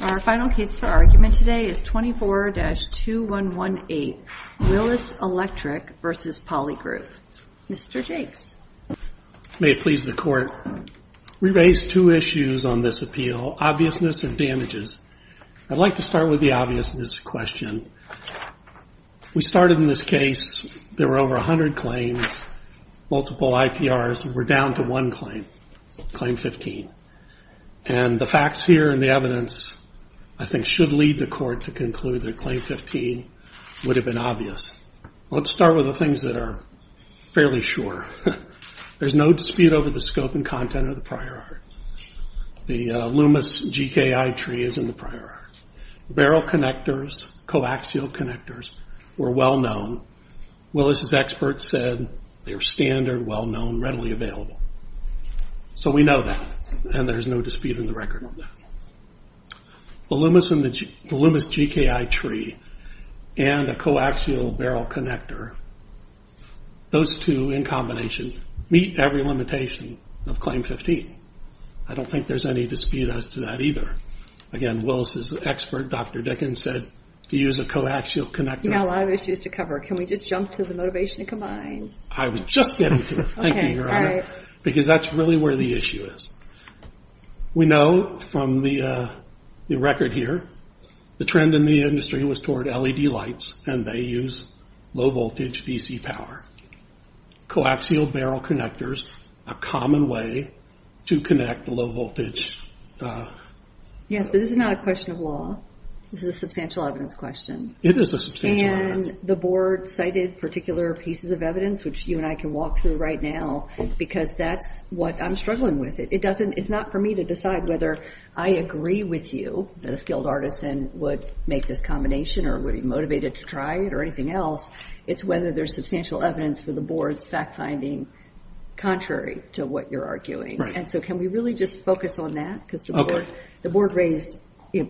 Our final case for argument today is 24-2118 Willis Electric vs. Polygroup. Mr. Jakes. May it please the court. We raise two issues on this appeal, obviousness and damages. I'd like to start with the obviousness question. We started in this case, there were over 100 claims, multiple IPRs, and we're down to one claim, claim 15. And the facts here and the evidence I think should lead the court to conclude that claim 15 would have been obvious. Let's start with the things that are fairly sure. There's no dispute over the scope and content of the prior art. The Loomis GKI tree is in the prior art. Barrel connectors, coaxial connectors were well known. Willis' experts said they were standard, well known, readily available. So we know that, and there's no dispute in the record on that. The Loomis GKI tree and a coaxial barrel connector, those two in combination meet every limitation of claim 15. I don't think there's any dispute as to that either. Again, Willis' expert, Dr. Dickens, said to use a coaxial connector. A lot of issues to cover. Can we just jump to the motivation to combine? I was just getting to it. Thank you, Your Honor, because that's really where the issue is. We know from the record here, the trend in the industry was toward LED lights, and they use low voltage DC power. Coaxial barrel connectors, a common way to connect the low voltage. Yes, but this is not a question of law. This is a substantial evidence question. It is a substantial evidence question. The board cited particular pieces of evidence, which you and I can walk through right now, because that's what I'm struggling with. It's not for me to decide whether I agree with you that a skilled artisan would make this combination, or would be motivated to try it, or anything else. It's whether there's substantial evidence for the board's fact finding contrary to what you're arguing. Can we really just focus on that? The board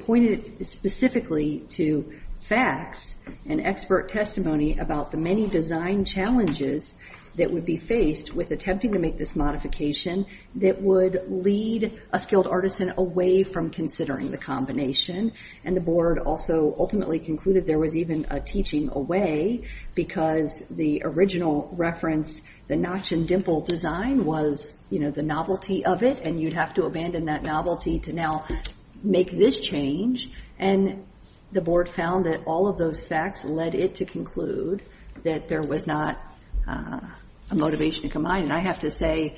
pointed specifically to facts and expert testimony about the many design challenges that would be faced with attempting to make this modification that would lead a skilled artisan away from considering the combination. The board also ultimately concluded there was even a teaching away, because the original reference, the notch and dimple design was the novelty of it, and you'd have to abandon that novelty to now make this change. And the board found that all of those facts led it to conclude that there was not a motivation to combine. And I have to say,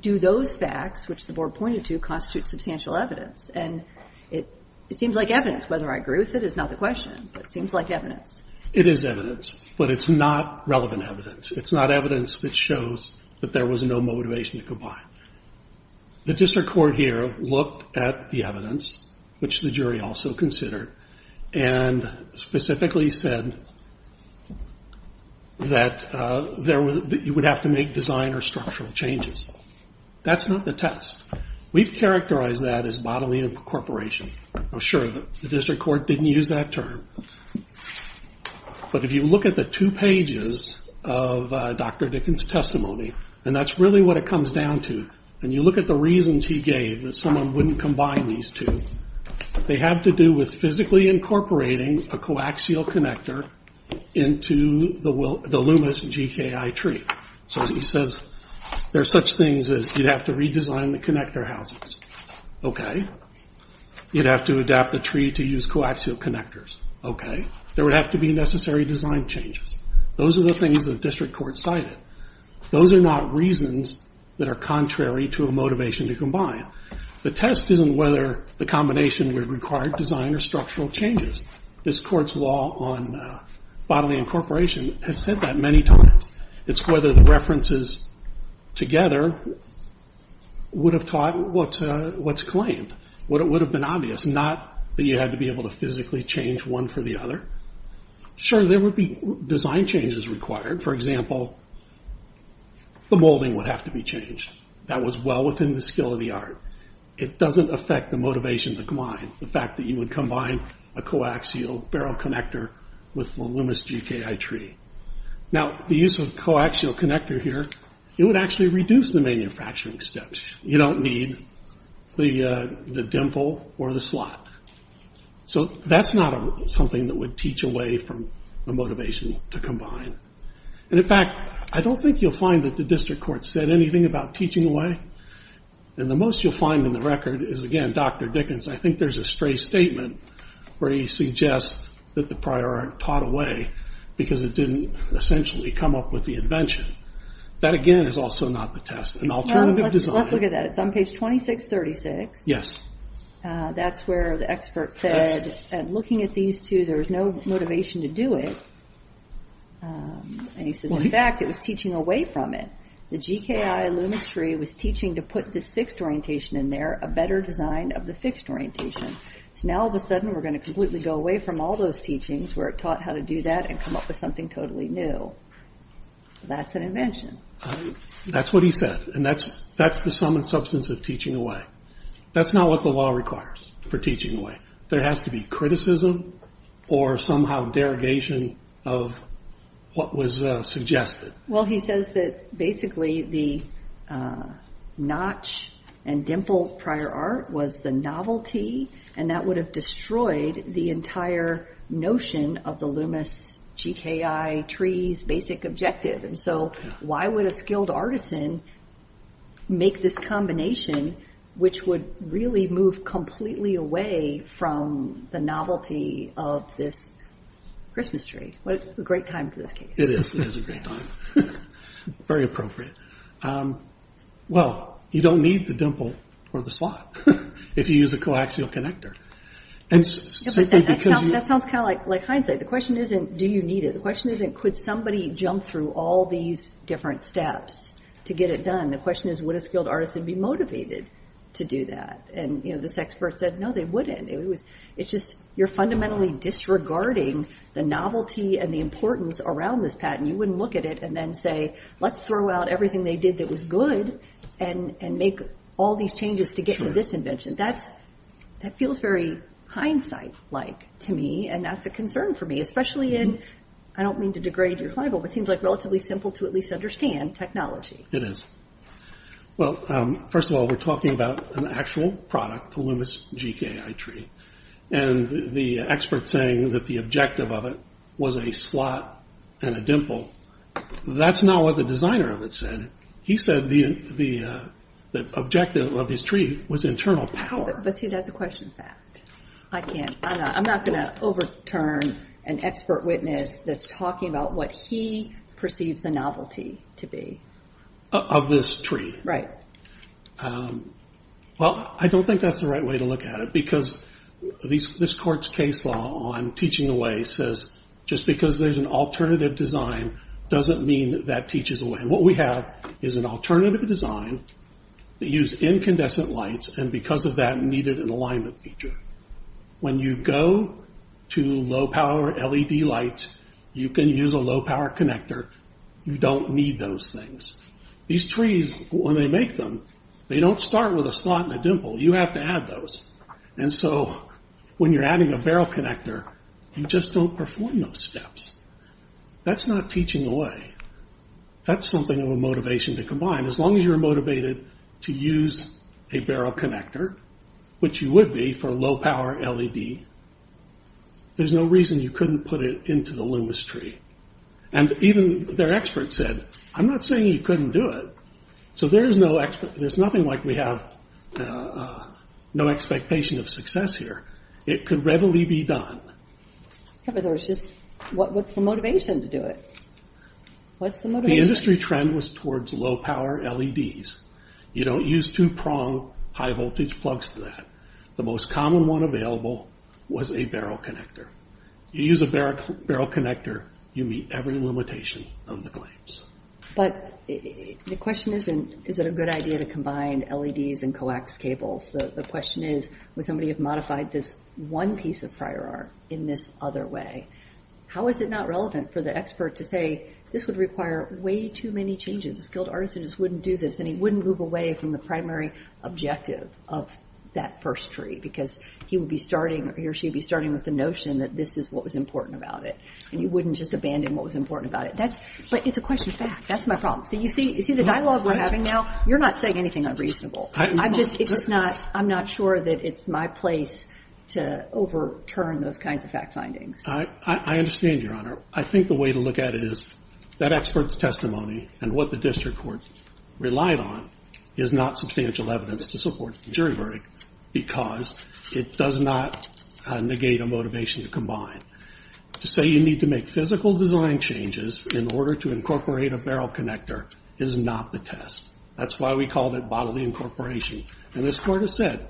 do those facts, which the board pointed to, constitute substantial evidence? And it seems like evidence. Whether I agree with it is not the question, but it seems like evidence. It is evidence, but it's not relevant evidence. It's not evidence that shows that there was no motivation to combine. The district court here looked at the evidence, which the jury also considered, and specifically said that you would have to make design or structural changes. That's not the test. We've characterized that as bodily incorporation. I'm sure the district court didn't use that term. But if you look at the two pages of Dr. Dickens' testimony, and that's really what it comes down to, you look at the reasons he gave that someone wouldn't combine these two. They have to do with physically incorporating a coaxial connector into the luminous GKI tree. So he says there's such things as you'd have to redesign the connector housings. You'd have to adapt the tree to use coaxial connectors. There would have to be necessary design changes. Those are the things that the district court cited. Those are not reasons that are contrary to a motivation to combine. The test isn't whether the combination would require design or structural changes. This court's law on bodily incorporation has said that many times. It's whether the references together would have taught what's claimed. What would have been obvious. Not that you had to be able to physically change one for the other. Sure, there would be design changes required. For example, the molding would have to be changed. That was well within the skill of the art. It doesn't affect the motivation to combine. The fact that you would combine a coaxial barrel connector with the luminous GKI tree. Now the use of coaxial connector here, it would actually reduce the manufacturing steps. You don't need the dimple or the slot. So that's not something that would teach away from the motivation to combine. In fact, I don't think you'll find that the district court said anything about teaching away. The most you'll find in the record is again, Dr. Dickens. I think there's a stray statement where he suggests that the prior art taught away because it didn't essentially come up with the invention. That again is also not the test. An alternative design. Let's look at that. It's on page 2636. Yes. That's where the expert said, looking at these two, there was no motivation to do it. And he says, in fact, it was teaching away from it. The GKI luminous tree was teaching to put this fixed orientation in there, a better design of the fixed orientation. Now all of a sudden, we're going to completely go away from all those teachings where it taught how to do that and come up with something totally new. That's an invention. That's what he said. And that's the sum and substance of teaching away. That's not what the law requires for teaching away. There has to be criticism or somehow derogation of what was suggested. Well, he says that basically the notch and dimple prior art was the novelty, and that would have destroyed the entire notion of the luminous GKI tree's basic objective. And so why would a skilled artisan make this combination which would really move completely away from the novelty of this Christmas tree? What a great time for this case. It is. It is a great time. Very appropriate. Well, you don't need the dimple or the slot if you use a coaxial connector. That sounds kind of like hindsight. The question isn't, do you need it? The question isn't, could somebody jump through all these different steps to get it done? The question is, would a skilled artisan be motivated to do that? And this expert said, no, they wouldn't. It's just, you're fundamentally disregarding the novelty and the importance around this patent. You wouldn't look at it and then say, let's throw out everything they did that was good and make all these changes to get to this invention. That feels very hindsight-like to me, and that's a concern for me, especially in, I don't mean to degrade your client, but it seems relatively simple to at least understand technology. It is. Well, first of all, we're talking about an actual product, the luminous GKI tree. And the expert saying that the objective of it was a slot and a dimple, that's not what the designer of it said. He said the objective of his tree was internal power. But see, that's a question fact. I can't, I'm not going to overturn an expert witness that's talking about what he perceives the novelty to be. Of this tree. Right. Well, I don't think that's the right way to look at it, because this court's case law on teaching away says, just because there's an alternative design doesn't mean that teaches away. And what we have is an alternative design that use incandescent lights, and because of that, needed an alignment feature. When you go to low power LED lights, you can use a low power connector. You don't need those things. These trees, when they make them, they don't start with a slot and a dimple. You have to add those. And so, when you're adding a barrel connector, you just don't perform those steps. That's not teaching away. That's something of a motivation to combine. As long as you're motivated to use a barrel connector, which you would be for low power LED, there's no reason you couldn't put it into the Loomis tree. And even their expert said, I'm not saying you couldn't do it. So, there's nothing like we have no expectation of success here. It could readily be done. What's the motivation to do it? The industry trend was towards low power LEDs. You don't use two prong high voltage plugs for that. The most common one available was a barrel connector. You use a barrel connector, you meet every limitation of the claims. But the question isn't, is it a good idea to combine LEDs and coax cables? The question is, would somebody have modified this one piece of prior art in this other way? How is it not relevant for the expert to say, this would require way too many changes? A skilled artist wouldn't do this and he wouldn't move away from the primary objective of that first tree because he or she would be starting with the notion that this is what was important about it. And you wouldn't just abandon what was important about it. But it's a question of fact. That's my saying anything unreasonable. I'm just not sure that it's my place to overturn those kinds of fact findings. I understand, Your Honor. I think the way to look at it is that expert's testimony and what the district court relied on is not substantial evidence to support the jury verdict because it does not negate a motivation to combine. To say you need to make physical design changes in order to incorporate a barrel connector is not the test. That's why we called it bodily incorporation. And this court has said,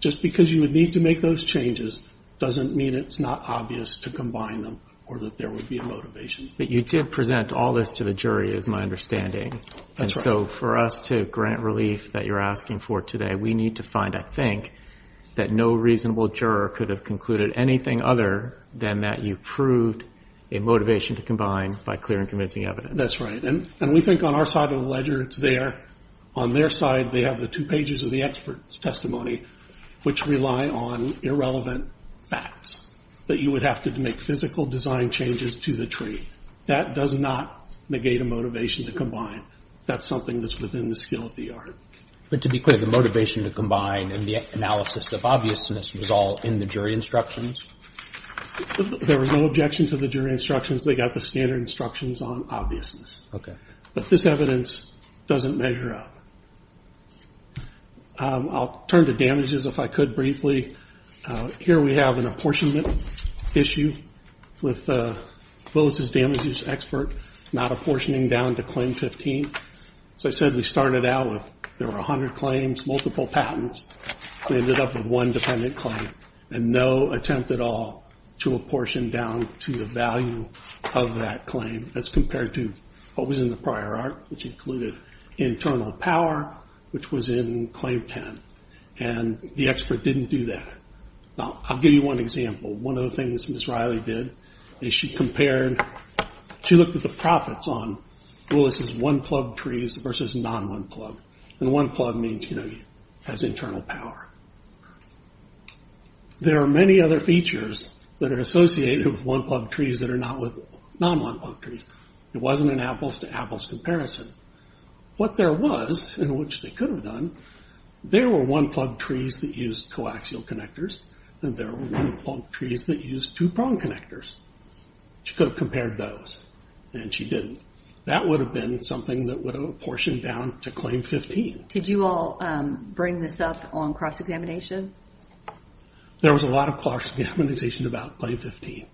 just because you would need to make those changes doesn't mean it's not obvious to combine them or that there would be a motivation. But you did present all this to the jury, is my understanding. That's right. And so for us to grant relief that you're asking for today, we need to find, I think, that no reasonable juror could have concluded anything other than that you proved a motivation to combine by clear and convincing evidence. That's right. And we think on our side of the ledger, it's there. On their side, they have the two pages of the expert's testimony which rely on irrelevant facts that you would have to make physical design changes to the tree. That does not negate a motivation to combine. That's something that's within the skill of the art. But to be clear, the motivation to combine and the analysis of obviousness was all in the jury instructions? There was no objection to the jury instructions. They got the standard instructions on obviousness. But this evidence doesn't measure up. I'll turn to damages if I could briefly. Here we have an apportionment issue with Boaz's damage expert not apportioning down to claim 15. So I said we started out with there were 100 claims, multiple patents. We ended up with one claim and no attempt at all to apportion down to the value of that claim as compared to what was in the prior art, which included internal power, which was in claim 10. And the expert didn't do that. Now, I'll give you one example. One of the things Ms. Riley did is she compared, she looked at the profits on Willis's one-plug trees versus non-one-plug. And one-plug means has internal power. There are many other features that are associated with one-plug trees that are not with non-one-plug trees. It wasn't an apples to apples comparison. What there was, and which they could have done, there were one-plug trees that used coaxial connectors and there were one-plug trees that used two-prong connectors. She could have compared those and she didn't. That would have been something that would have apportioned down to claim 15. Did you all bring this up on cross-examination? There was a lot of cross-examination about claim 15.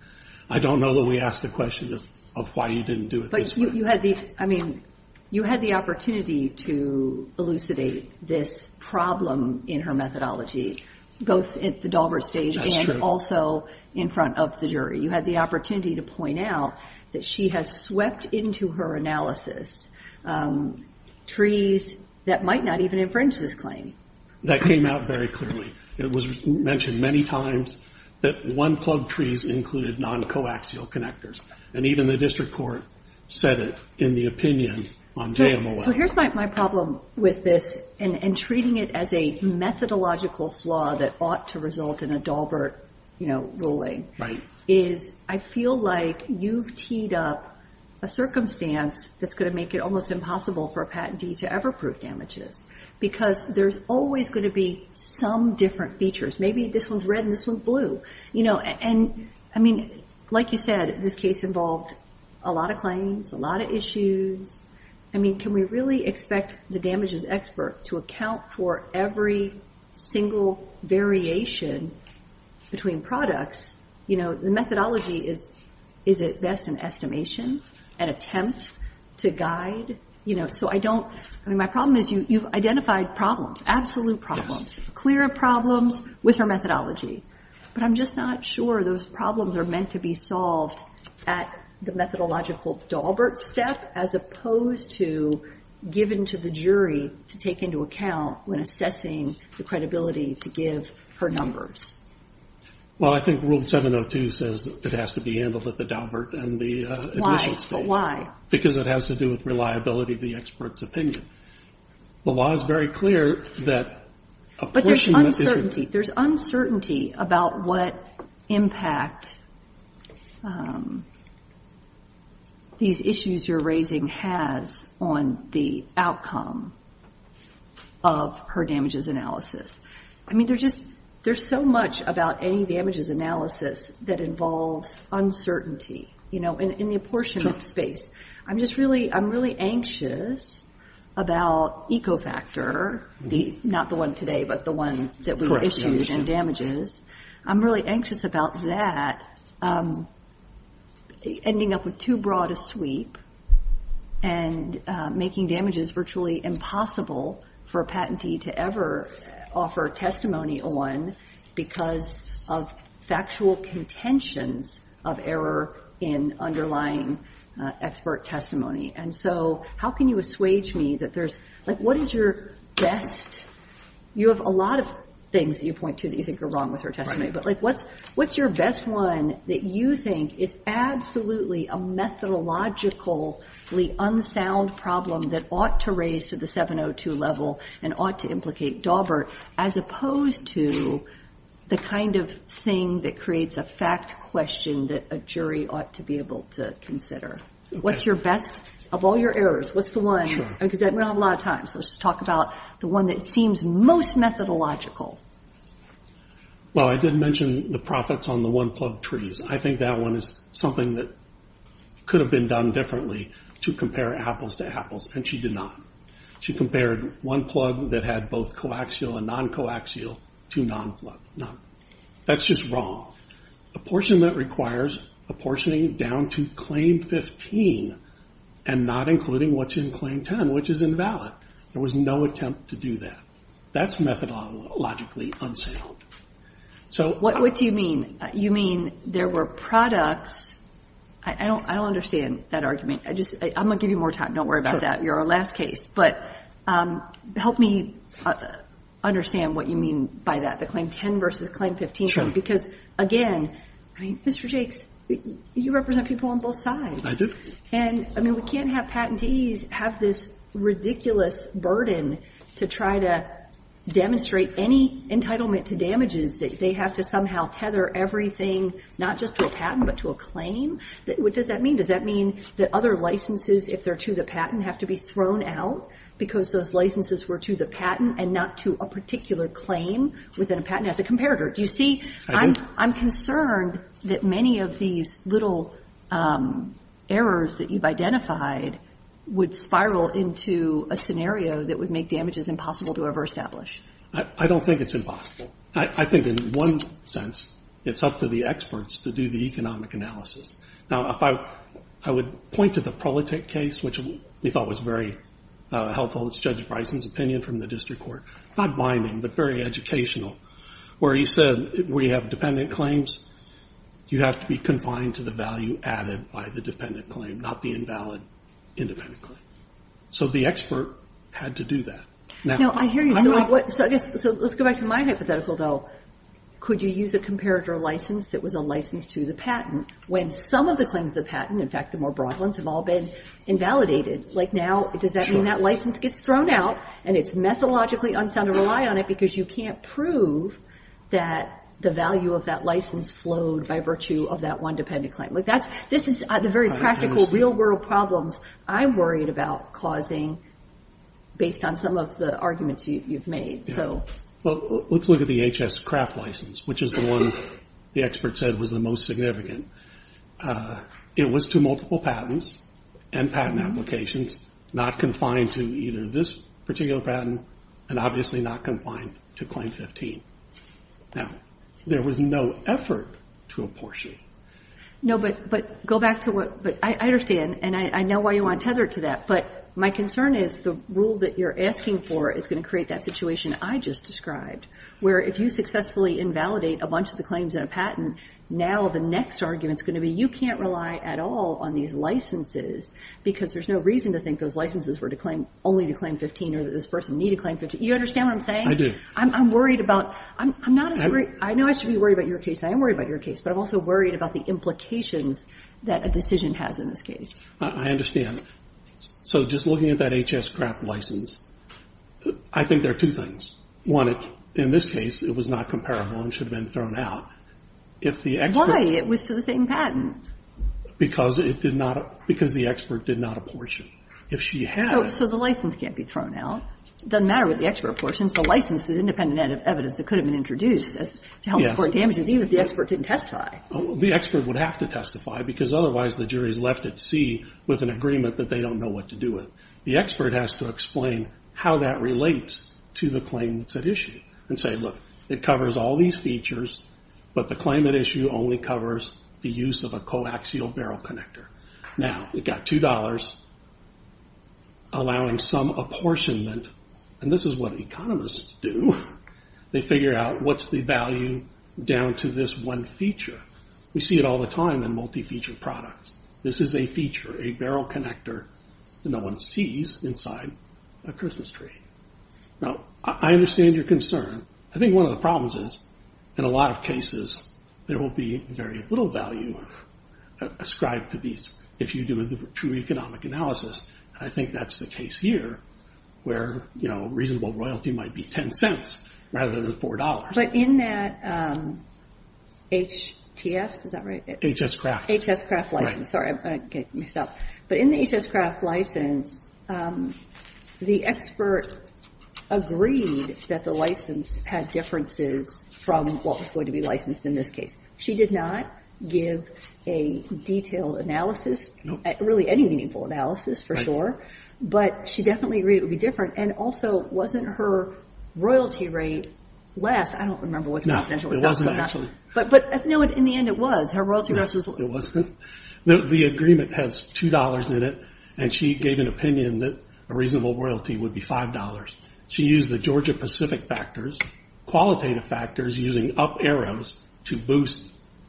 I don't know that we asked the question of why you didn't do it this way. But you had the opportunity to elucidate this problem in her methodology, both at the Daubert stage and also in front of the jury. You had the opportunity to point out that she has swept into her analysis trees that might not even infringe this claim. That came out very clearly. It was mentioned many times that one-plug trees included non-coaxial connectors. Even the district court said it in the opinion on JMOA. Here's my problem with this and treating it as a methodological flaw that ought to result in a you've teed up a circumstance that's going to make it almost impossible for a patentee to ever prove damages because there's always going to be some different features. Maybe this one's red and this one's blue. Like you said, this case involved a lot of claims, a lot of issues. Can we really expect the damages expert to account for every single variation between products? The methodology is at best an estimation, an attempt to guide. My problem is you've identified problems, absolute problems, clear problems with her methodology. But I'm just not sure those problems are meant to be solved at the methodological Daubert step as opposed to given to the jury to take into account when assessing the credibility to give her numbers. Well, I think Rule 702 says that it has to be handled at the Daubert and the initial stage. Because it has to do with reliability of the expert's opinion. The law is very clear that But there's uncertainty about what impact these issues you're raising has on the outcome of her damages analysis. I mean, there's just much about any damages analysis that involves uncertainty in the apportion of space. I'm really anxious about EcoFactor, not the one today, but the one that we issued and damages. I'm really anxious about that ending up with too broad a sweep and making damages virtually impossible for a patentee to ever offer testimony on because of factual contentions of error in underlying expert testimony. And so how can you assuage me that there's, like, what is your best? You have a lot of things that you point to that you think are wrong with her testimony. But like, what's your best one that you think is absolutely a methodologically unsound problem that ought to the 702 level and ought to implicate Daubert as opposed to the kind of thing that creates a fact question that a jury ought to be able to consider? What's your best of all your errors? What's the one? Because we don't have a lot of time, so let's talk about the one that seems most methodological. Well, I did mention the profits on the one-plug trees. I think that one is something that could have been done differently to compare apples to apples, and she did not. She compared one-plug that had both coaxial and non-coaxial to non-plug. That's just wrong. Apportionment requires apportioning down to claim 15 and not including what's in claim 10, which is invalid. There was no attempt to do that. That's methodologically unsound. What do you mean? You mean there were products... I don't understand that argument. I'm going to give you more time. Don't worry about that. You're our last case. Help me understand what you mean by that, the claim 10 versus claim 15 because, again, Mr. Jakes, you represent people on both sides. I do. We can't have patentees have this ridiculous burden to try to demonstrate any entitlement to damages. They have to somehow tether everything, not just to a patent, but to a claim. What does that mean? Does that mean that other licenses, if they're to the patent, have to be thrown out because those licenses were to the patent and not to a particular claim within a patent as a comparator? Do you see... I do. I'm concerned that many of these little errors that you've identified would spiral into a scenario that would make damages impossible to ever establish. I don't think it's impossible. I think in one sense, it's up to the experts to do the economic analysis. Now, if I would point to the Prolitech case, which we thought was very helpful. It's Judge Bryson's opinion from the district court. Not my name, but very educational, where he said we have dependent claims. You have to be confined to the value added by the dependent claim, not the invalid independent claim. The expert had to do that. Now, I hear you. Let's go back to my hypothetical, though. Could you use a comparator license that was a license to the patent when some of the claims to the patent, in fact, the more broad ones, have all been invalidated? Now, does that mean that license gets thrown out and it's methodologically unsound to rely on it because you can't prove that the value of that license flowed by virtue of that one dependent claim? This is the very practical, real-world problems I'm worried about causing based on some of the arguments you've made. Let's look at the H.S. Kraft license, which is the one the expert said was the most significant. It was to multiple patents and patent applications, not confined to either this particular patent and obviously not confined to Claim 15. Now, there was no effort to apportion. No, but go back to what, but I understand and I know why you want to tether it to that, but my concern is the rule that you're asking for is going to create that situation I just described, where if you successfully invalidate a bunch of the claims in a patent, now the next argument is going to be you can't rely at all on these licenses because there's no reason to think those licenses were to claim, only to Claim 15 or that this person needed Claim 15. You understand what I'm saying? I do. I'm worried about, I'm not as worried, I know I should be worried about your case, I am worried about your case, but I'm also worried about the implications that a decision has in this case. I understand. So just looking at that H.S. Kraft license, I think there are two things. One, in this case, it was not comparable and should have been thrown out. Why? It was to the same patent. Because it did not, because the expert did not apportion. If she had... So the license can't be thrown out. It doesn't matter what the damage is, even if the expert didn't testify. The expert would have to testify because otherwise the jury is left at sea with an agreement that they don't know what to do with. The expert has to explain how that relates to the claim that's at issue and say, look, it covers all these features, but the claim at issue only covers the use of a coaxial barrel connector. Now, it got two dollars for allowing some apportionment, and this is what economists do. They figure out what's the value down to this one feature. We see it all the time in multi-feature products. This is a feature, a barrel connector that no one sees inside a Christmas tree. Now, I understand your concern. I think one of the problems is, in a lot of cases, there will be very little value ascribed to these if you do a true economic analysis. I think that's the case here, where reasonable royalty might be ten cents rather than four dollars. But in that HTS, is that right? HS-Craft. HS-Craft license. Sorry, I'm going to get myself. But in the HS-Craft license, the expert agreed that the license had differences from what was going to be licensed in this case. She did not give a detailed analysis, really any meaningful analysis for sure, but she definitely agreed it would be different. And also, wasn't her royalty rate less? I don't remember what the potential was. No, it wasn't, actually. But in the end, it was. Her royalty rate was less. It wasn't. The agreement has two dollars in it, and she gave an opinion that a reasonable royalty would be five dollars. She used the Georgia-Pacific factors, qualitative factors using up arrows to boost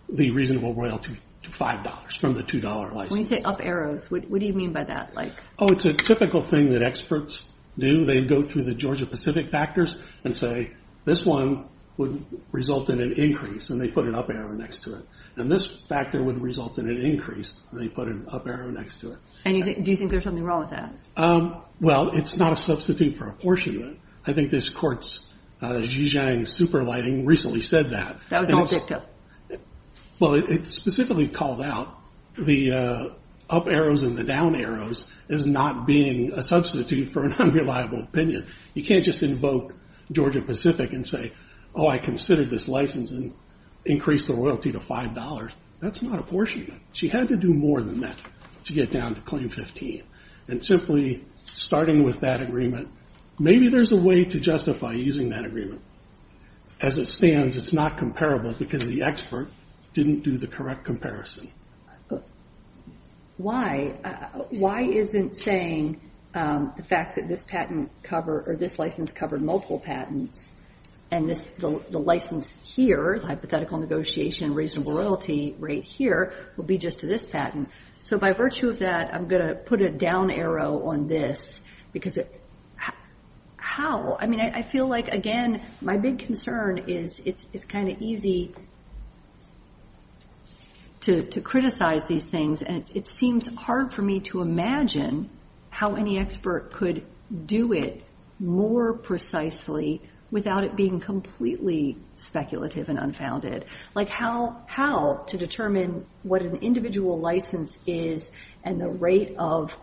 the reasonable royalty to five dollars from the two-dollar license. When you say up arrows, what do you mean by that? It's a typical thing that experts do. They go through the Georgia-Pacific factors and say, this one would result in an increase, and they put an up arrow next to it. And this factor would result in an increase, and they put an up arrow next to it. And do you think there's something wrong with that? Well, it's not a substitute for apportionment. I think this court's Zhijiang Superlighting recently said that. That was all ditto. Well, it specifically called out the up arrows and the down arrows as not being a substitute for an unreliable opinion. You can't just invoke Georgia-Pacific and say, oh, I considered this license and increased the royalty to five dollars. That's not apportionment. She had to do more than that to get down to claim 15. And simply starting with that agreement, maybe there's a way to using that agreement. As it stands, it's not comparable because the expert didn't do the correct comparison. Why? Why isn't saying the fact that this patent cover, or this license covered multiple patents, and the license here, hypothetical negotiation, reasonable royalty right here, would be just to this patent. So by virtue of that, I'm going to put a down arrow on this, because how? I mean, I feel like, again, my big concern is it's kind of easy to criticize these things. And it seems hard for me to imagine how any expert could do it more precisely without it being completely speculative and unfounded. Like how to determine what an individual license is and the rate of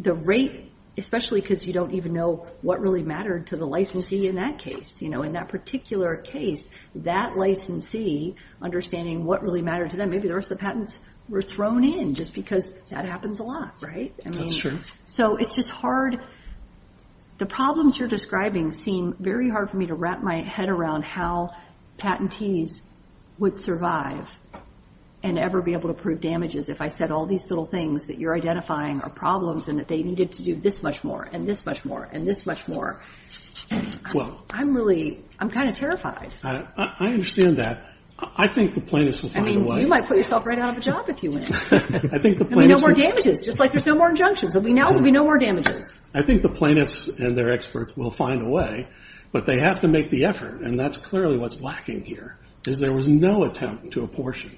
the rate, especially because you don't even know what really mattered to the licensee in that case. In that particular case, that licensee understanding what really mattered to them, maybe the rest of the patents were thrown in just because that happens a lot, right? That's true. So it's just hard. The problems you're describing seem very hard for me to wrap my head around how patentees would survive and ever be able to prove damages if I said all these little things that you're identifying are problems and that they needed to do this much more, and this much more, and this much more. I'm really, I'm kind of terrified. I understand that. I think the plaintiffs will find a way. I mean, you might put yourself right out of a job if you win. I think the plaintiffs- There'll be no more damages, just like there's no more injunctions. Now there'll be no more damages. I think the plaintiffs and their experts will find a way, but they have to make the effort, and that's clearly what's lacking here, is there was no attempt to apportion.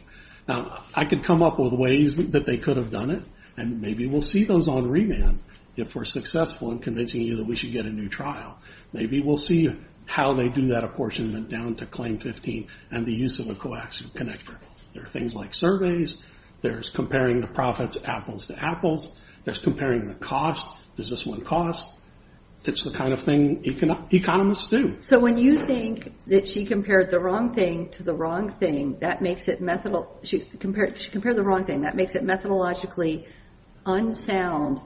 Now I could come up with ways that they could have done it, and maybe we'll see those on remand if we're successful in convincing you that we should get a new trial. Maybe we'll see how they do that apportionment down to claim 15 and the use of a coaxial connector. There are things like surveys. There's comparing the profits, apples to apples. There's comparing the cost. Does this one cost? It's the kind of thing economists do. So when you think that she compared the wrong thing to the wrong thing, that makes it methodologically unsound,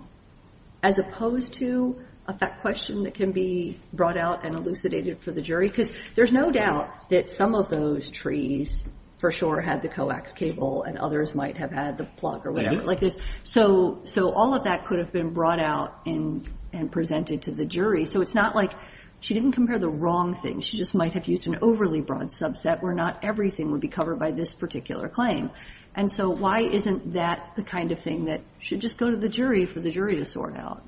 as opposed to a question that can be brought out and elucidated for the jury, because there's no doubt that some of those trees for sure had the coax cable, and others might have had the plug or whatever, like this. So all of that could have been brought out and presented to the jury. So it's not like she didn't compare the wrong thing. She just might have used an overly broad subset where not everything would be covered by this particular claim. And so why isn't that the kind of thing that should just go to the jury for the jury to sort out?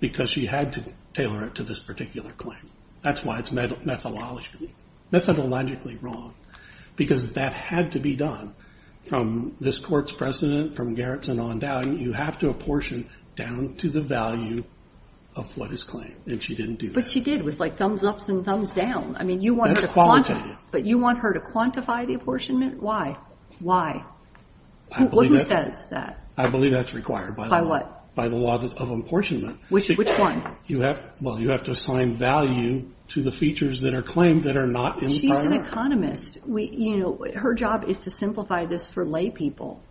Because she had to tailor it to this particular claim. That's why it's methodologically wrong, because that had to be done. From this court's precedent, from Gerritsen on down, you have to apportion down to the value of what is claimed. And she didn't do that. But she did, with like thumbs ups and thumbs down. I mean, you want her to quantify the apportionment? Why? Why? Who says that? I believe that's required. By what? By the law of apportionment. Which one? Well, you have to assign value to the features that are claimed that are not in prior. She's an economist. You know, her job is to simplify this for lay people.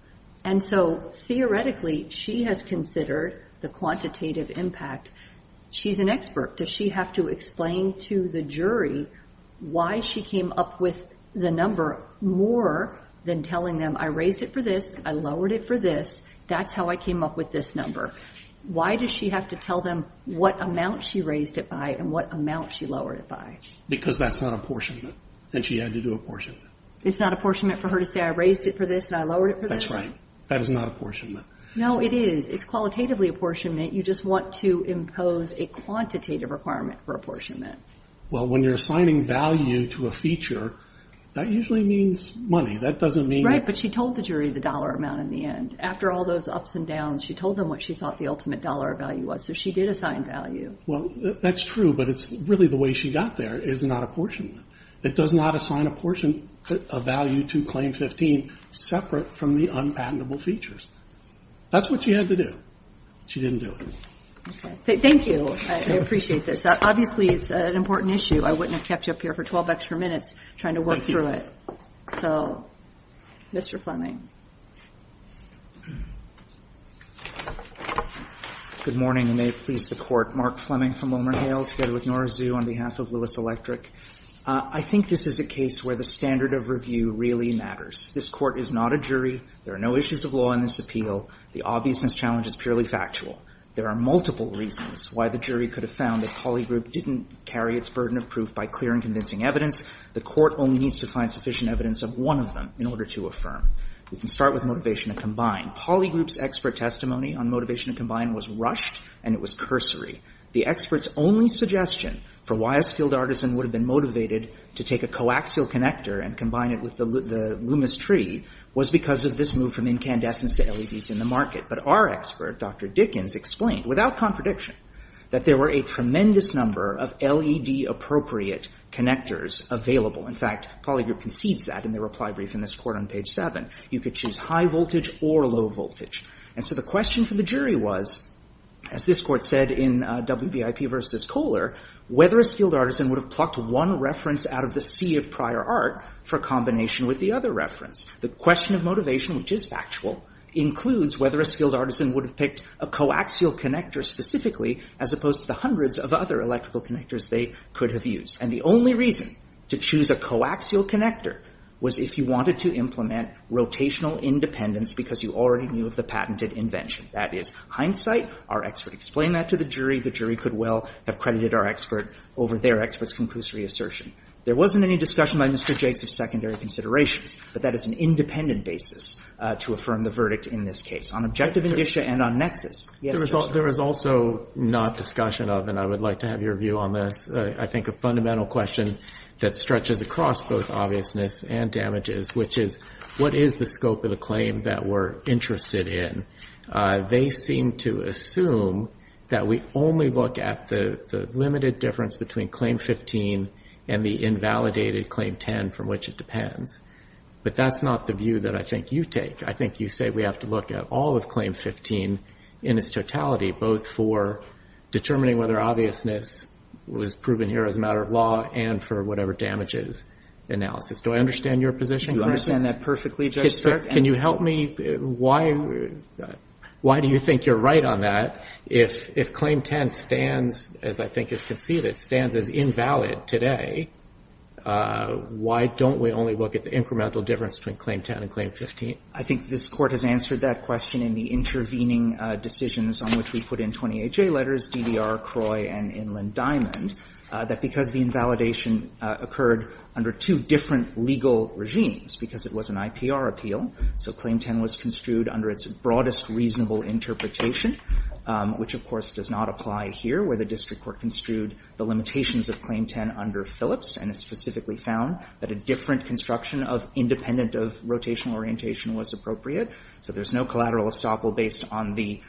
And so theoretically, she has considered the quantitative impact. She's an expert. Does she have to explain to the jury why she came up with the number more than telling them, I raised it for this. I lowered it for this. That's how I came up with this number. Why does she have to tell them what amount she raised it by and what amount she lowered it by? Because that's not apportionment. And she had to do apportionment. It's not apportionment for her to say, I raised it for this and I lowered it for this? That's right. That is not apportionment. No, it is. It's qualitatively apportionment. You just want to impose a quantitative requirement for apportionment. Well, when you're assigning value to a feature, that usually means money. That doesn't mean... Right. But she told the jury the dollar amount in the end. After all those ups and downs, she told them what she thought the ultimate dollar value was. So she did assign value. Well, that's true. But it's really the way she got there is not apportionment. It does not assign a portion of value to claim 15 separate from the unpatentable features. That's what she had to do. She didn't do it. Thank you. I appreciate this. Obviously, it's an important issue. I wouldn't have kept you up here for 12 extra minutes trying to work through it. So, Mr. Fleming. Good morning. You may have pleased the Court. Mark Fleming from WilmerHale together with Nora Zhu on behalf of Lewis Electric. I think this is a case where the standard of review really matters. This Court is not a jury. There are no issues of law in this appeal. The obviousness challenge is purely factual. There are multiple reasons why the jury could have found that Poly Group didn't carry its burden of proof by clear and convincing evidence. The Court only needs to find sufficient evidence of one of them in order to affirm. We can start with Motivation to Combine. Poly Group's expert testimony on Motivation to Combine was rushed, and it was cursory. The expert's only suggestion for why a skilled artisan would have been motivated to take a coaxial connector and combine it with the Loomis tree was because of this move from incandescence to LEDs in the market. But our expert, Dr. Dickens, explained without contradiction that there were a tremendous number of LED-appropriate connectors available. In fact, Poly Group concedes that in their reply brief in this Court on page 7. You could choose high voltage or low voltage. And so the question for the jury was, as this Court said in WBIP v. Kohler, whether a skilled artisan would have plucked one reference out of the sea of prior art for combination with the other reference. The question of motivation, which is factual, includes whether a skilled artisan would have picked a coaxial connector specifically as opposed to the hundreds of other electrical connectors they could have used. And the only reason to choose a coaxial connector was if you wanted to implement rotational independence because you already knew of the patented invention. That is hindsight. Our expert explained that to the jury. The jury could well have credited our expert over their expert's conclusory assertion. There wasn't any discussion by Mr. Jakes of secondary considerations. But that is an independent basis to affirm the verdict in this case. On objective indicia and on nexus, yes, Judge? There was also not discussion of, and I would like to have your view on this, I think, a fundamental question that stretches across both obviousness and damages, which is, what is the scope of the claim that we're interested in? They seem to assume that we only look at the limited difference between Claim 15 and the invalidated Claim 10 from which it depends. But that's not the view that I think you take. I think you say we have to look at all of Claim 15 in its totality, both for determining whether obviousness was proven here as a matter of law and for whatever damages analysis. Do I understand your position? You understand that perfectly, Judge Stark. Can you help me? Why do you think you're right on that? If Claim 10 stands, as I think is conceded, stands as invalid today, why don't we only look at the incremental difference between Claim 10 and Claim 15? I think this Court has answered that question in the intervening decisions on which we put in 28J letters, DDR, CROI, and Inland Diamond, that because the invalidation occurred under two different legal regimes, because it was an IPR appeal, so Claim 10 was construed under its broadest reasonable interpretation, which, of course, does not apply here, where the district court construed the limitations of Claim 10 under Phillips, and it specifically found that a different construction of independent of rotational orientation was appropriate. So there's no collateral estoppel based on the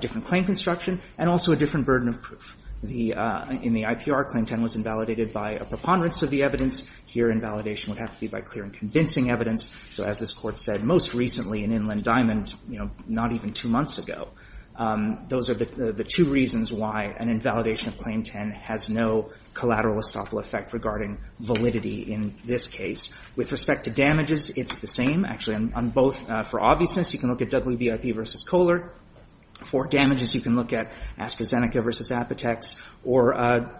different claim construction and also a different burden of proof. In the IPR, Claim 10 was invalidated by a preponderance of the evidence. Here, invalidation would have to be by clear and convincing evidence. So as this Court said most recently in Inland Diamond, you know, not even two months ago, those are the two reasons why an invalidation of Claim 10 has no collateral estoppel effect regarding validity in this case. With respect to damages, it's the same. Actually, on both, for obviousness, you can look at WBIP v. Kohler. For damages, you can look at Askazeneca v. Apotex. Or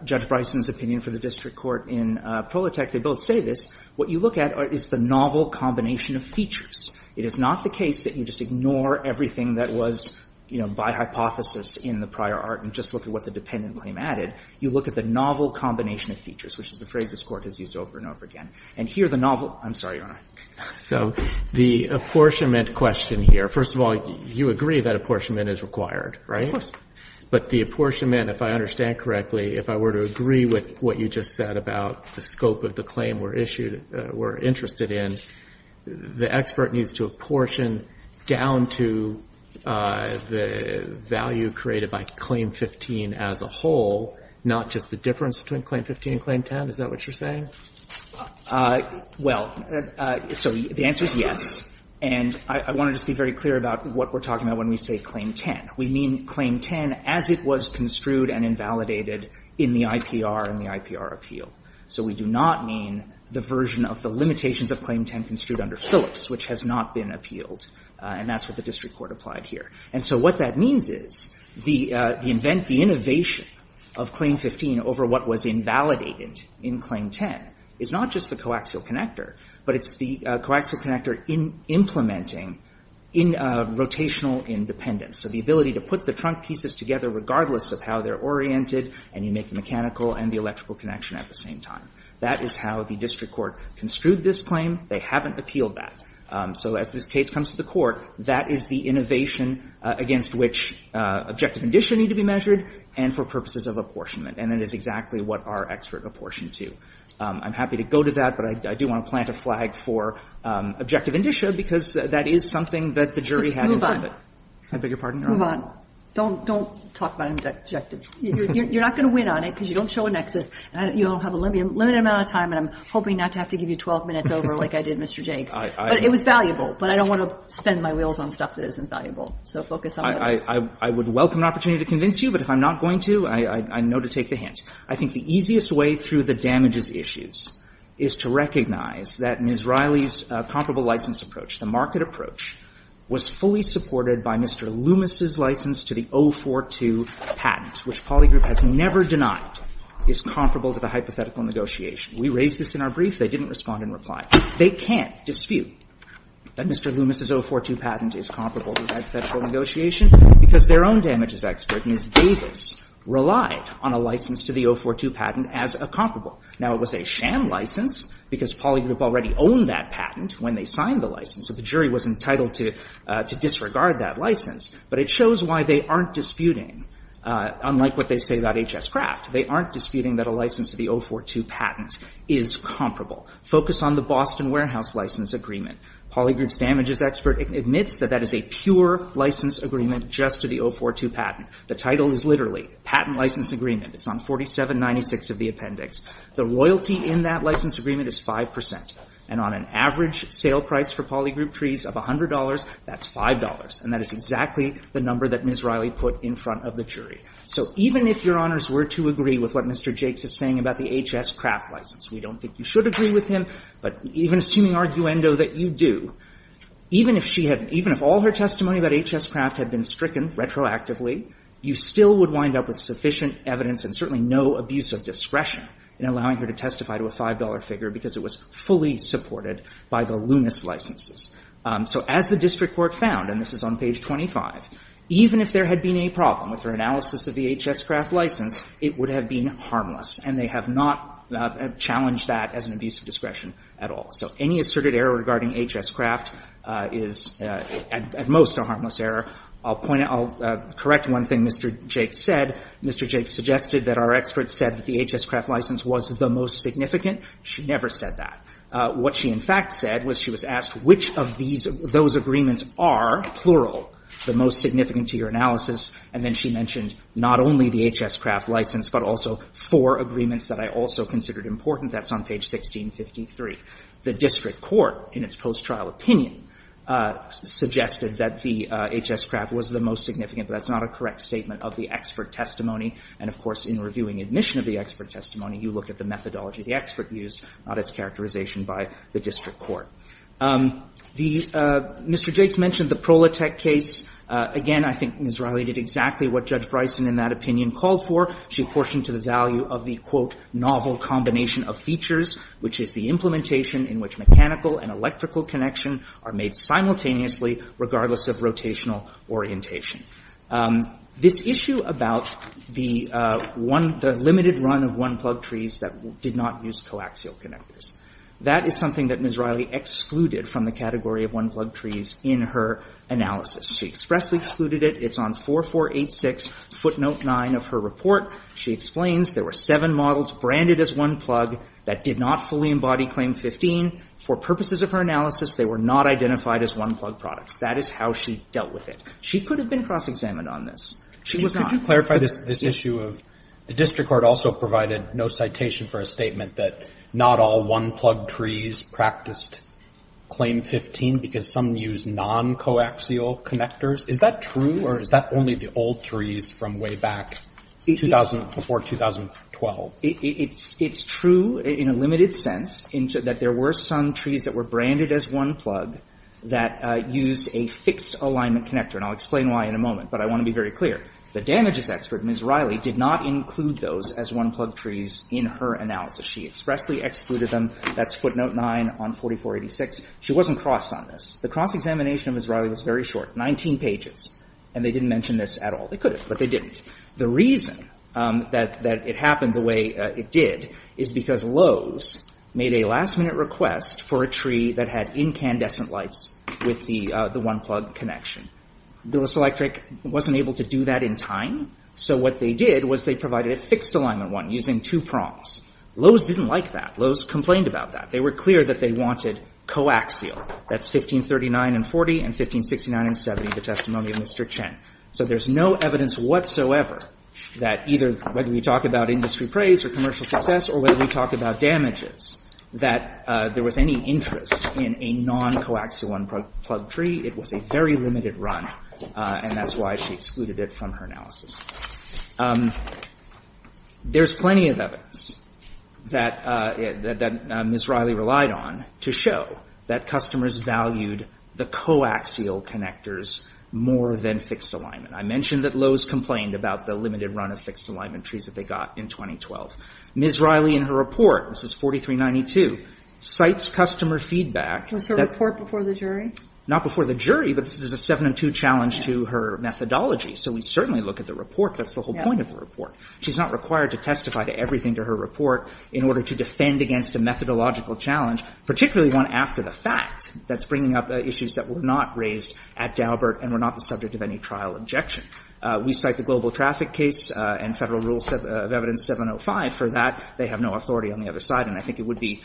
Judge Bryson's opinion for the district court in Prolitech, they both say this. What you look at is the novel combination of features. It is not the case that you just ignore everything that was, you know, by hypothesis in the prior art and just look at what the dependent claim added. You look at the novel combination of features, which is the phrase this Court has used over and over again. And here, the novel – I'm sorry, Your Honor. So the apportionment question here, first of all, you agree that apportionment is required, right? But the apportionment, if I understand correctly, if I were to agree with what you just said about the scope of the claim we're issued, we're interested in, the expert needs to apportion down to the value created by Claim 15 as a whole, not just the difference between Claim 15 and Claim 10. Is that what you're saying? Well, so the answer is yes. And I want to just be very clear about what we're talking about when we say Claim 10. We mean Claim 10 as it was construed and invalidated in the IPR and the IPR appeal. So we do not mean the version of the limitations of Claim 10 construed under Phillips, which has not been appealed. And that's what the district court applied here. And so what that means is the invent, the innovation of Claim 15 over what was invalidated in Claim 10 is not just the coaxial connector, but it's the coaxial connector in implementing in rotational independence. So the ability to put the trunk pieces together, regardless of how they're oriented and you make the mechanical and the electrical connection at the same time. That is how the district court construed this claim. They haven't appealed that. So as this case comes to the court, that is the innovation against which objective condition need to be measured and for purposes of apportionment. And that is exactly what our expert apportioned to. I'm happy to go to that, but I do want to plant a flag for objective indicia because that is something that the jury had in front of it. I beg your pardon? Move on. Don't, don't talk about objective. You're not going to win on it because you don't show a nexus and you don't have a limited amount of time. And I'm hoping not to have to give you 12 minutes over like I did, Mr. Jakes, but it was valuable. But I don't want to spend my wheels on stuff that isn't valuable. So focus on what is. I would welcome an opportunity to convince you, but if I'm not going to, I know to take the hint. I think the easiest way through the damages issues is to recognize that Ms. Riley's comparable license approach, the market approach, was fully supported by Mr. Loomis' license to the 042 patent, which Poly Group has never denied, is comparable to the hypothetical negotiation. We raised this in our brief. They didn't respond in reply. They can't dispute that Mr. Loomis' 042 patent is comparable to the hypothetical negotiation because their own damages expert, Ms. Davis, relied on a license to the 042 patent as a comparable. Now, it was a sham license because Poly Group already owned that patent when they signed the license. So the jury was entitled to disregard that license. But it shows why they aren't disputing, unlike what they say about H.S. Craft, they aren't disputing that a license to the 042 patent is comparable. Focus on the Boston Warehouse License Agreement. Poly Group's damages expert admits that that is a pure license agreement just to the 042 patent. The title is literally, Patent License Agreement. It's on 4796 of the appendix. The royalty in that license agreement is 5 percent. And on an average sale price for Poly Group trees of $100, that's $5. And that is exactly the number that Ms. Riley put in front of the jury. So even if Your Honors were to agree with what Mr. Jakes is saying about the H.S. Craft license, we don't think you should agree with him. But even assuming arguendo that you do, even if she had — even if all her testimony about H.S. Craft had been stricken retroactively, you still would wind up with sufficient evidence and certainly no abuse of discretion in allowing her to testify to a $5 figure because it was fully supported by the Loomis licenses. So as the district court found, and this is on page 25, even if there had been any problem with her analysis of the H.S. Craft license, it would have been harmless. And they have not challenged that as an abuse of discretion at all. So any asserted error regarding H.S. Craft is at most a harmless error. I'll point out — I'll correct one thing Mr. Jakes said. Mr. Jakes suggested that our experts said that the H.S. Craft license was the most significant. She never said that. What she in fact said was she was asked which of these — those agreements are, plural, the most significant to your analysis. And then she mentioned not only the H.S. Craft license, but also four agreements that I also considered important. That's on page 1653. The district court, in its post-trial opinion, suggested that the H.S. Craft was the most significant, but that's not a correct statement of the expert testimony. And of course, in reviewing admission of the expert testimony, you look at the methodology the expert used, not its characterization by the district court. The — Mr. Jakes mentioned the Prolatec case. Again, I think Ms. Riley did exactly what Judge Bryson in that opinion called for. She apportioned to the value of the, quote, novel combination of features, which is the implementation in which mechanical and electrical connection are made simultaneously, regardless of rotational orientation. This issue about the one — the limited run of one-plug trees that did not use coaxial connectors, that is something that Ms. Riley excluded from the category of one-plug trees in her analysis. She expressly excluded it. It's on 4486 footnote 9 of her report. She explains there were seven models branded as one-plug that did not fully embody Claim 15. For purposes of her analysis, they were not identified as one-plug products. That is how she dealt with it. She could have been cross-examined on this. She was not. Could you clarify this issue of — the district court also provided no citation for a statement that not all one-plug trees practiced Claim 15 because some use non-coaxial connectors? Is that true, or is that only the old trees from way back 2000 — before 2012? It's — it's true in a limited sense in that there were some trees that were branded as one-plug that used a fixed alignment connector. And I'll explain why in a moment. But I want to be very clear. The damages expert, Ms. Riley, did not include those as one-plug trees in her analysis. She expressly excluded them. That's footnote 9 on 4486. She wasn't crossed on this. The cross-examination of Ms. Riley was very short, 19 pages. And they didn't mention this at all. They could have, but they didn't. The reason that it happened the way it did is because Lowe's made a last-minute request for a tree that had incandescent lights with the one-plug connection. Billis Electric wasn't able to do that in time. So what they did was they provided a fixed alignment one using two prongs. Lowe's didn't like that. Lowe's complained about that. They were clear that they wanted coaxial. That's 1539 and 40, and 1569 and 70, the testimony of Mr. Chen. So there's no evidence whatsoever that either, whether we talk about industry praise or commercial success, or whether we talk about damages, that there was any interest in a non-coaxial one-plug tree. It was a very limited run, and that's why she excluded it from her analysis. There's plenty of evidence that Ms. Riley relied on to show that customers valued the coaxial connectors more than fixed alignment. I mentioned that Lowe's complained about the limited run of fixed alignment trees that they got in 2012. Ms. Riley, in her report, this is 4392, cites customer feedback. Was her report before the jury? Not before the jury, but this is a 7 and 2 challenge to her methodology. So we certainly look at the report. That's the whole point of the report. She's not required to testify to everything to her report in order to defend against a methodological challenge, particularly one after the fact, that's bringing up issues that were not raised at Daubert and were not the subject of any trial objection. We cite the global traffic case and Federal Rules of Evidence 705 for that. They have no authority on the other side, and I think it would be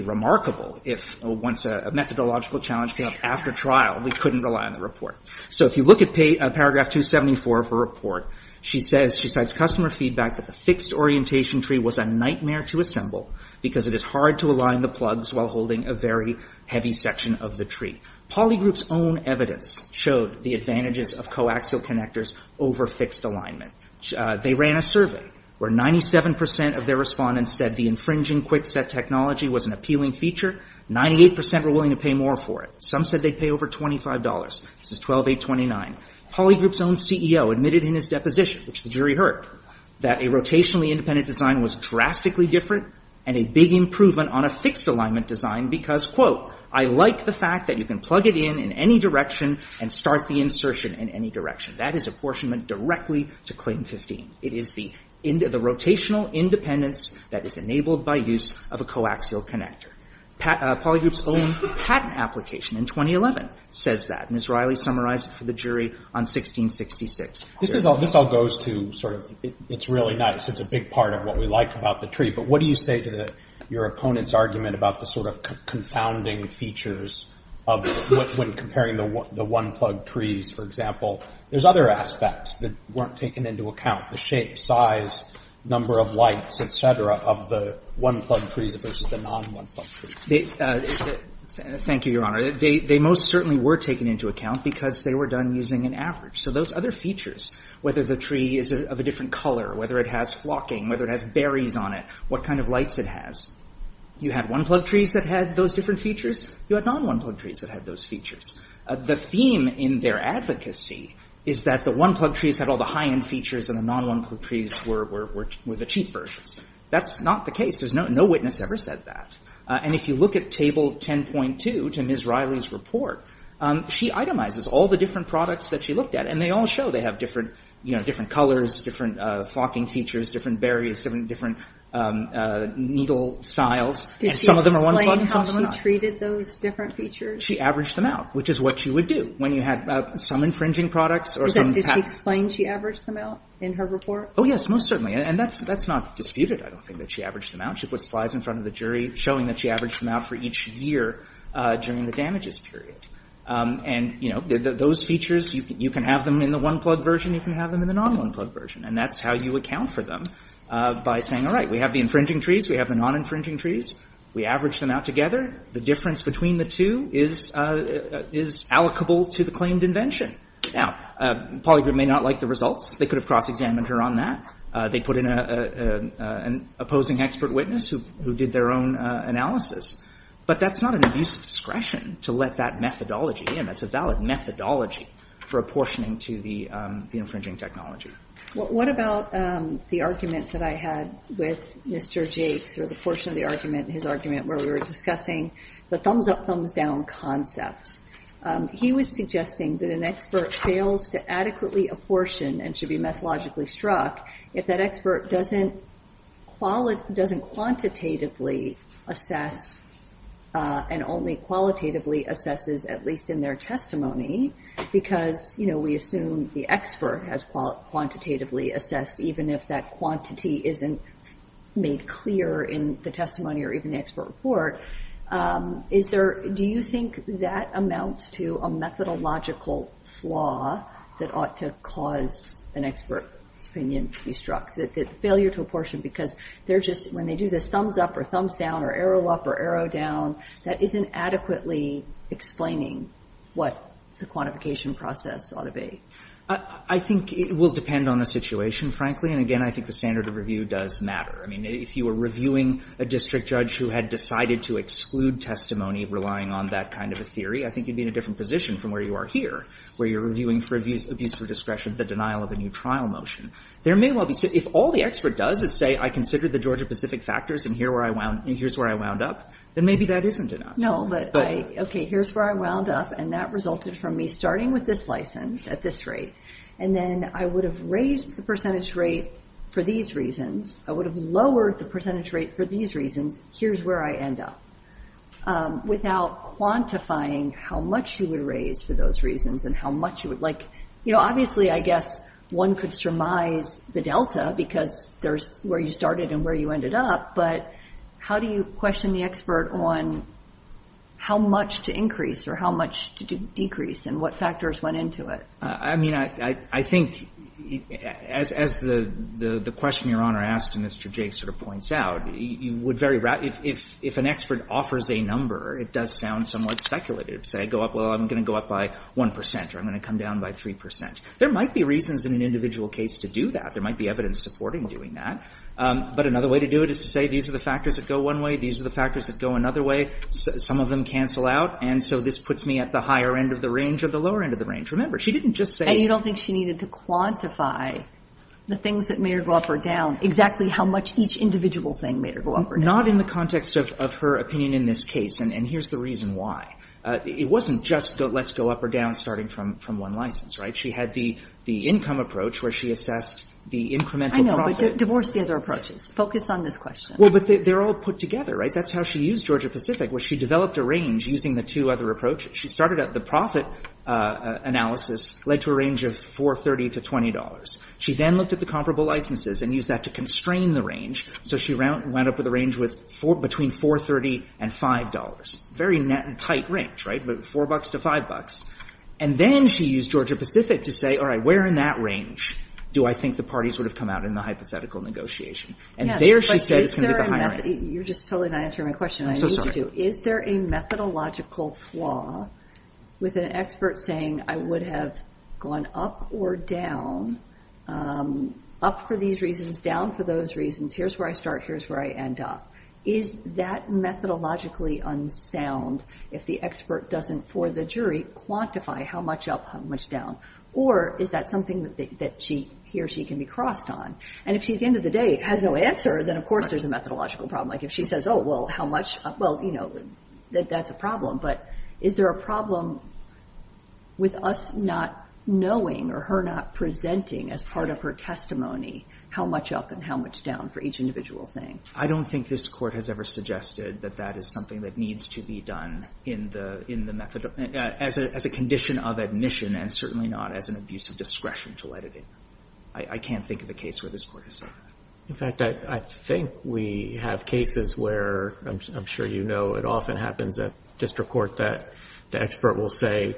remarkable if, once a methodological challenge came up after trial, we couldn't rely on the So if you look at paragraph 274 of her report, she says, she cites customer feedback that the fixed orientation tree was a nightmare to assemble because it is hard to align the plugs while holding a very heavy section of the tree. Polygroup's own evidence showed the advantages of coaxial connectors over fixed alignment. They ran a survey where 97 percent of their respondents said the infringing quick set technology was an appealing feature. Ninety-eight percent were willing to pay more for it. Some said they'd pay over $25. This is 12829. Polygroup's own CEO admitted in his deposition, which the jury heard, that a rotationally independent design was drastically different and a big improvement on a fixed alignment design because, quote, I like the fact that you can plug it in in any direction and start the insertion in any direction. That is apportionment directly to Claim 15. It is the rotational independence that is enabled by use of a coaxial connector. Polygroup's own patent application in 2011 says that. And Ms. Riley summarized it for the jury on 1666. This is all goes to sort of it's really nice. It's a big part of what we like about the tree. But what do you say to your opponent's argument about the sort of confounding features of what when comparing the one-plug trees, for example, there's other aspects that weren't taken into account, the shape, size, number of lights, et cetera, of the one-plug trees versus the non-one-plug trees? Thank you, Your Honor. They most certainly were taken into account because they were done using an average. So those other features, whether the tree is of a different color, whether it has flocking, whether it has berries on it, what kind of lights it has. You had one-plug trees that had those different features. You had non-one-plug trees that had those features. The theme in their advocacy is that the one-plug trees had all the high-end features and the non-one-plug trees were the cheap versions. That's not the case. There's no witness ever said that. And if you look at Table 10.2 to Ms. Riley's report, she itemizes all the different products that she looked at and they all show they have different colors, different flocking features, different berries, different needle styles. Did she explain how she treated those different features? She averaged them out, which is what she would do when you had some infringing products or some... Did she explain she averaged them out in her report? Oh, yes, most certainly. And that's not disputed. I don't think that she averaged them out. She put slides in front of the jury showing that she averaged them out for each year during the damages period. And those features, you can have them in the one-plug version, you can have them in the non-one-plug version. And that's how you account for them by saying, all right, we have the infringing trees, we have the non-infringing trees. We average them out together. The difference between the two is allocable to the claimed invention. Now, Polygroup may not like the results. They could have cross-examined her on that. They put in an opposing expert witness who did their own analysis. But that's not an abuse of discretion to let that methodology in. That's a valid methodology for apportioning to the infringing technology. What about the argument that I had with Mr. Jakes, or the portion of the argument, his argument, where we were discussing the thumbs-up, thumbs-down concept? He was suggesting that an expert fails to adequately apportion and should be methodologically struck if that expert doesn't quantitatively assess, and only qualitatively assesses, at least in their testimony. Because we assume the expert has quantitatively assessed, even if that quantity isn't made clear in the testimony or even the expert report. Do you think that amounts to a methodological flaw that ought to cause an expert's opinion to be struck? That failure to apportion, because they're just, when they do this thumbs-up or thumbs-down or arrow-up or arrow-down, that isn't adequately explaining what the quantification process ought to be? I think it will depend on the situation, frankly. And again, I think the standard of review does matter. I mean, if you were reviewing a district judge who had decided to exclude testimony, relying on that kind of a theory, I think you'd be in a different position from where you are here, where you're reviewing for abuse of discretion, the denial of a new trial motion. There may well be, if all the expert does is say, I consider the Georgia-Pacific factors, and here's where I wound up, then maybe that isn't enough. No, but I, okay, here's where I wound up, and that resulted from me starting with this license at this rate. And then I would have raised the percentage rate for these reasons. I would have lowered the percentage rate for these reasons. Here's where I end up. Without quantifying how much you would raise for those reasons and how much you would, like, you know, obviously, I guess, one could surmise the delta, because there's where you started and where you ended up. But how do you question the expert on how much to increase or how much to decrease and what factors went into it? I mean, I think, as the question Your Honor asked and Mr. Jay sort of points out, you would very, if an expert offers a number, it does sound somewhat speculative. Say, go up, well, I'm going to go up by 1 percent or I'm going to come down by 3 percent. There might be reasons in an individual case to do that. There might be evidence supporting doing that. But another way to do it is to say, these are the factors that go one way, these are the factors that go another way, some of them cancel out, and so this puts me at the higher end of the range or the lower end of the range. Remember, she didn't just say you don't think she needed to quantify the things that made her go up or down, exactly how much each individual thing made her go up or down. Not in the context of her opinion in this case, and here's the reason why. It wasn't just let's go up or down starting from one license, right? She had the income approach where she assessed the incremental profit. I know, but divorce the other approaches. Focus on this question. Well, but they're all put together, right? That's how she used Georgia-Pacific, where she developed a range using the two other approaches. She started at the profit analysis, led to a range of $430 to $20. She then looked at the comparable licenses and used that to constrain the range, so she went up with a range between $430 and $5. Very tight range, right, but $4 to $5. And then she used Georgia-Pacific to say, all right, where in that range do I think the parties would have come out in the hypothetical negotiation? And there she said it's going to be the higher end. You're just totally not answering my question. I need you to. Is there a methodological flaw with an expert saying I would have gone up or down up for these reasons, down for those reasons. Here's where I start. Here's where I end up. Is that methodologically unsound if the expert doesn't, for the jury, quantify how much up, how much down, or is that something that she, he or she can be crossed on? And if she, at the end of the day, has no answer, then of course there's a methodological problem. Like if she says, oh, well, how much, well, you know, that's a problem. But is there a problem with us not knowing or her not presenting as part of her testimony how much up and how much down for each individual thing? I don't think this court has ever suggested that that is something that needs to be done in the method, as a condition of admission and certainly not as an abuse of discretion to let it in. I can't think of a case where this court has said that. In fact, I think we have cases where, I'm sure you know, it often happens that district court that the expert will say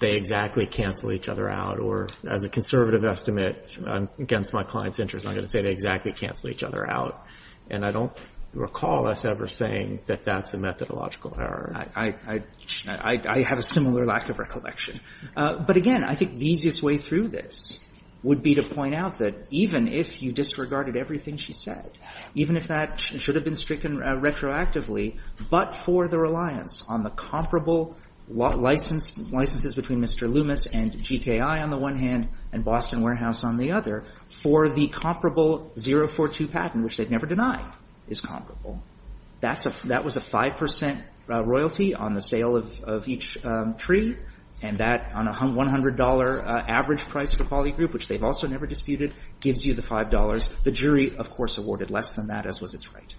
they exactly cancel each other out. Or as a conservative estimate, against my client's interest, I'm going to say they exactly cancel each other out. And I don't recall us ever saying that that's a methodological error. I have a similar lack of recollection. But again, I think the easiest way through this would be to point out that even if you disregarded everything she said, even if that should have been stricken retroactively, but for the reliance on the comparable licenses between Mr. Loomis and GTI on the one hand and Boston Warehouse on the other, for the comparable 042 patent, which they've never denied, is comparable. That was a 5 percent royalty on the sale of each tree. And that, on a $100 average price for Poly Group, which they've also never disputed, gives you the $5. The jury, of course, awarded less than that, as was its right.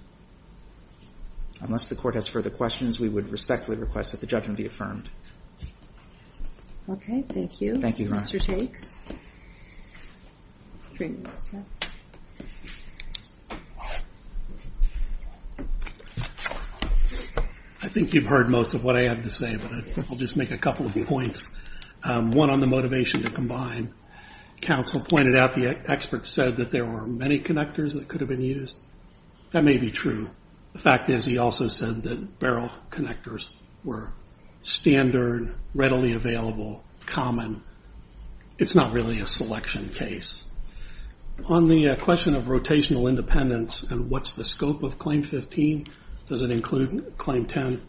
Unless the court has further questions, we would respectfully request that the judgment be affirmed. Okay, thank you. Thank you, Ron. I think you've heard most of what I have to say, but I'll just make a couple of points. One on the motivation to combine. Counsel pointed out the experts said that there were many connectors that could have been used. That may be true. The fact is, he also said that barrel connectors were standard, readily available, common. It's not really a selection case. On the question of rotational independence and what's the scope of Claim 15, does it include Claim 10?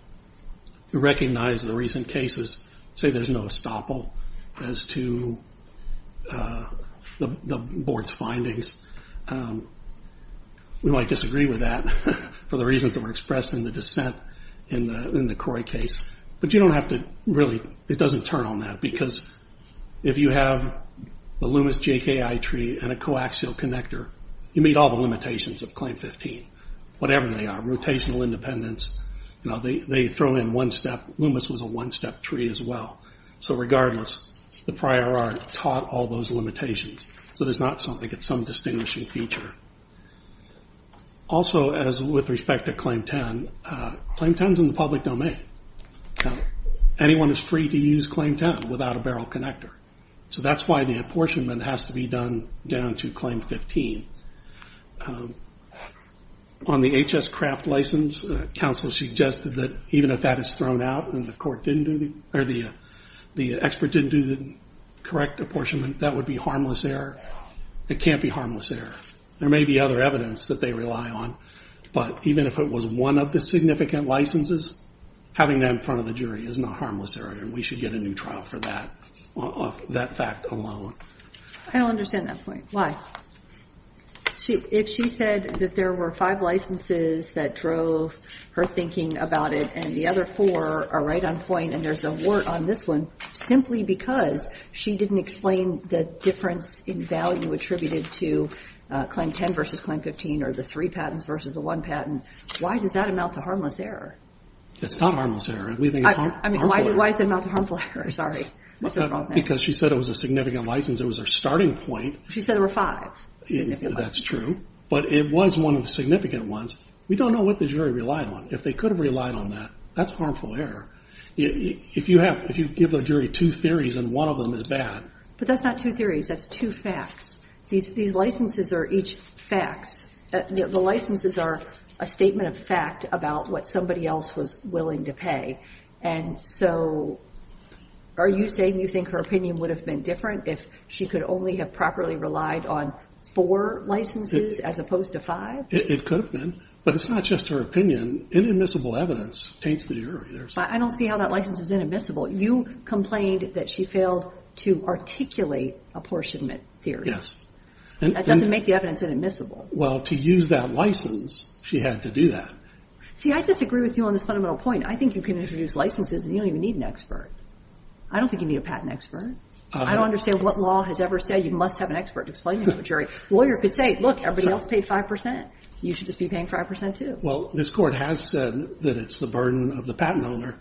We recognize the recent cases say there's no estoppel as to the board's findings. We might disagree with that for the reasons that were expressed in the dissent in the Croy case. But you don't have to really, it doesn't turn on that, because if you have the Loomis JKI tree and a coaxial connector, you meet all the limitations of Claim 15, whatever they are. Rotational independence, they throw in one step, Loomis was a one-step tree as well. So regardless, the prior art taught all those limitations. So there's not something, it's some distinguishing feature. Also, with respect to Claim 10, Claim 10's in the public domain. Anyone is free to use Claim 10 without a barrel connector. So that's why the apportionment has to be done down to Claim 15. On the HS Craft license, counsel suggested that even if that is thrown out and the expert didn't do the correct apportionment, that would be harmless error. It can't be harmless error. There may be other evidence that they rely on, but even if it was one of the significant licenses, having that in front of the jury is not harmless error, and we should get a new trial for that fact alone. I don't understand that point. Why? If she said that there were five licenses that drove her thinking about it, and the other four are right on point, and there's a word on this one, simply because she didn't explain the difference in value attributed to Claim 10 versus Claim 15, or the three patents versus the one patent, why does that amount to harmless error? It's not harmless error. I mean, why does it amount to harmful error? Sorry. Because she said it was a significant license. It was her starting point. She said there were five significant licenses. That's true, but it was one of the significant ones. We don't know what the jury relied on. If they could have relied on that, that's harmful error. If you give a jury two theories and one of them is bad... But that's not two theories. That's two facts. These licenses are each facts. The licenses are a statement of fact about what somebody else was willing to pay. So are you saying you think her opinion would have been different if she could only have properly relied on four licenses as opposed to five? It could have been, but it's not just her opinion. Inadmissible evidence taints the jury. I don't see how that license is inadmissible. You complained that she failed to articulate apportionment theory. That doesn't make the evidence inadmissible. Well, to use that license, she had to do that. See, I disagree with you on this fundamental point. I think you can introduce licenses and you don't even need an expert. I don't think you need a patent expert. I don't understand what law has ever said you must have an expert to explain to a jury. A lawyer could say, look, everybody else paid 5%. You should just be paying 5% too. Well, this court has said that it's the burden of the patent owner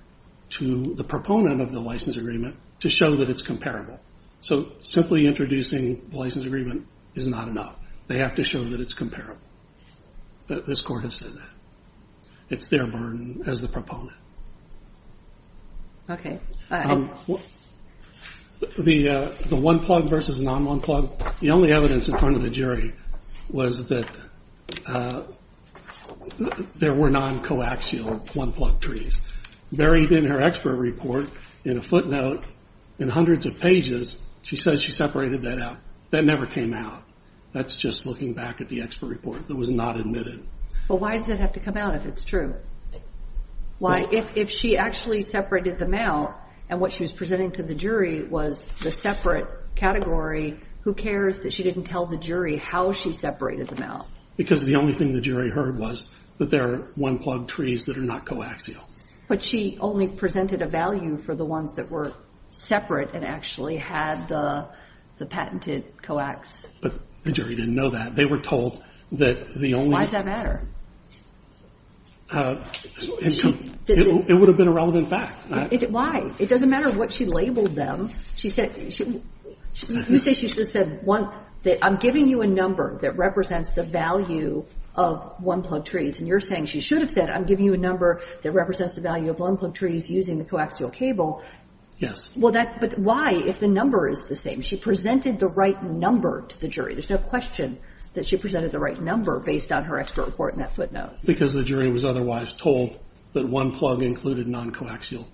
to the proponent of the license agreement to show that it's comparable. So simply introducing the license agreement is not enough. They have to show that it's comparable. This court has said that. It's their burden as the proponent. The one-plug versus non-one-plug. The only evidence in front of the jury was that there were non-coaxial one-plug trees buried in her expert report in a footnote in hundreds of pages. She says she separated that out. That never came out. That's just looking back at the expert report that was not admitted. But why does it have to come out if it's true? Why, if she actually separated them out, and what she was presenting to the jury was the separate category, who cares that she didn't tell the jury how she separated them out? Because the only thing the jury heard was that there are one-plug trees that are not coaxial. But she only presented a value for the ones that were separate and actually had the patented coax. But the jury didn't know that. They were told that the only one- It would have been a relevant fact. Why? It doesn't matter what she labeled them. You say she should have said, I'm giving you a number that represents the value of one-plug trees. And you're saying she should have said, I'm giving you a number that represents the value of one-plug trees using the coaxial cable. Yes. But why if the number is the same? She presented the right number to the jury. There's no question that she presented the right number based on her expert report in that footnote. Because the jury was otherwise told that one-plug included non-coaxial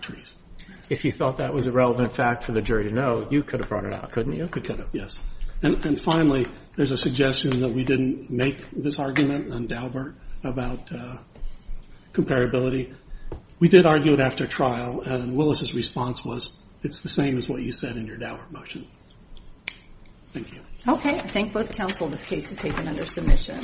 trees. If you thought that was a relevant fact for the jury to know, you could have brought it out, couldn't you? I could have, yes. And finally, there's a suggestion that we didn't make this argument on Daubert about comparability. We did argue it after trial, and Willis's response was, it's the same as what you said in your Daubert motion. Thank you. Okay. I thank both counsel. This case is taken under submission.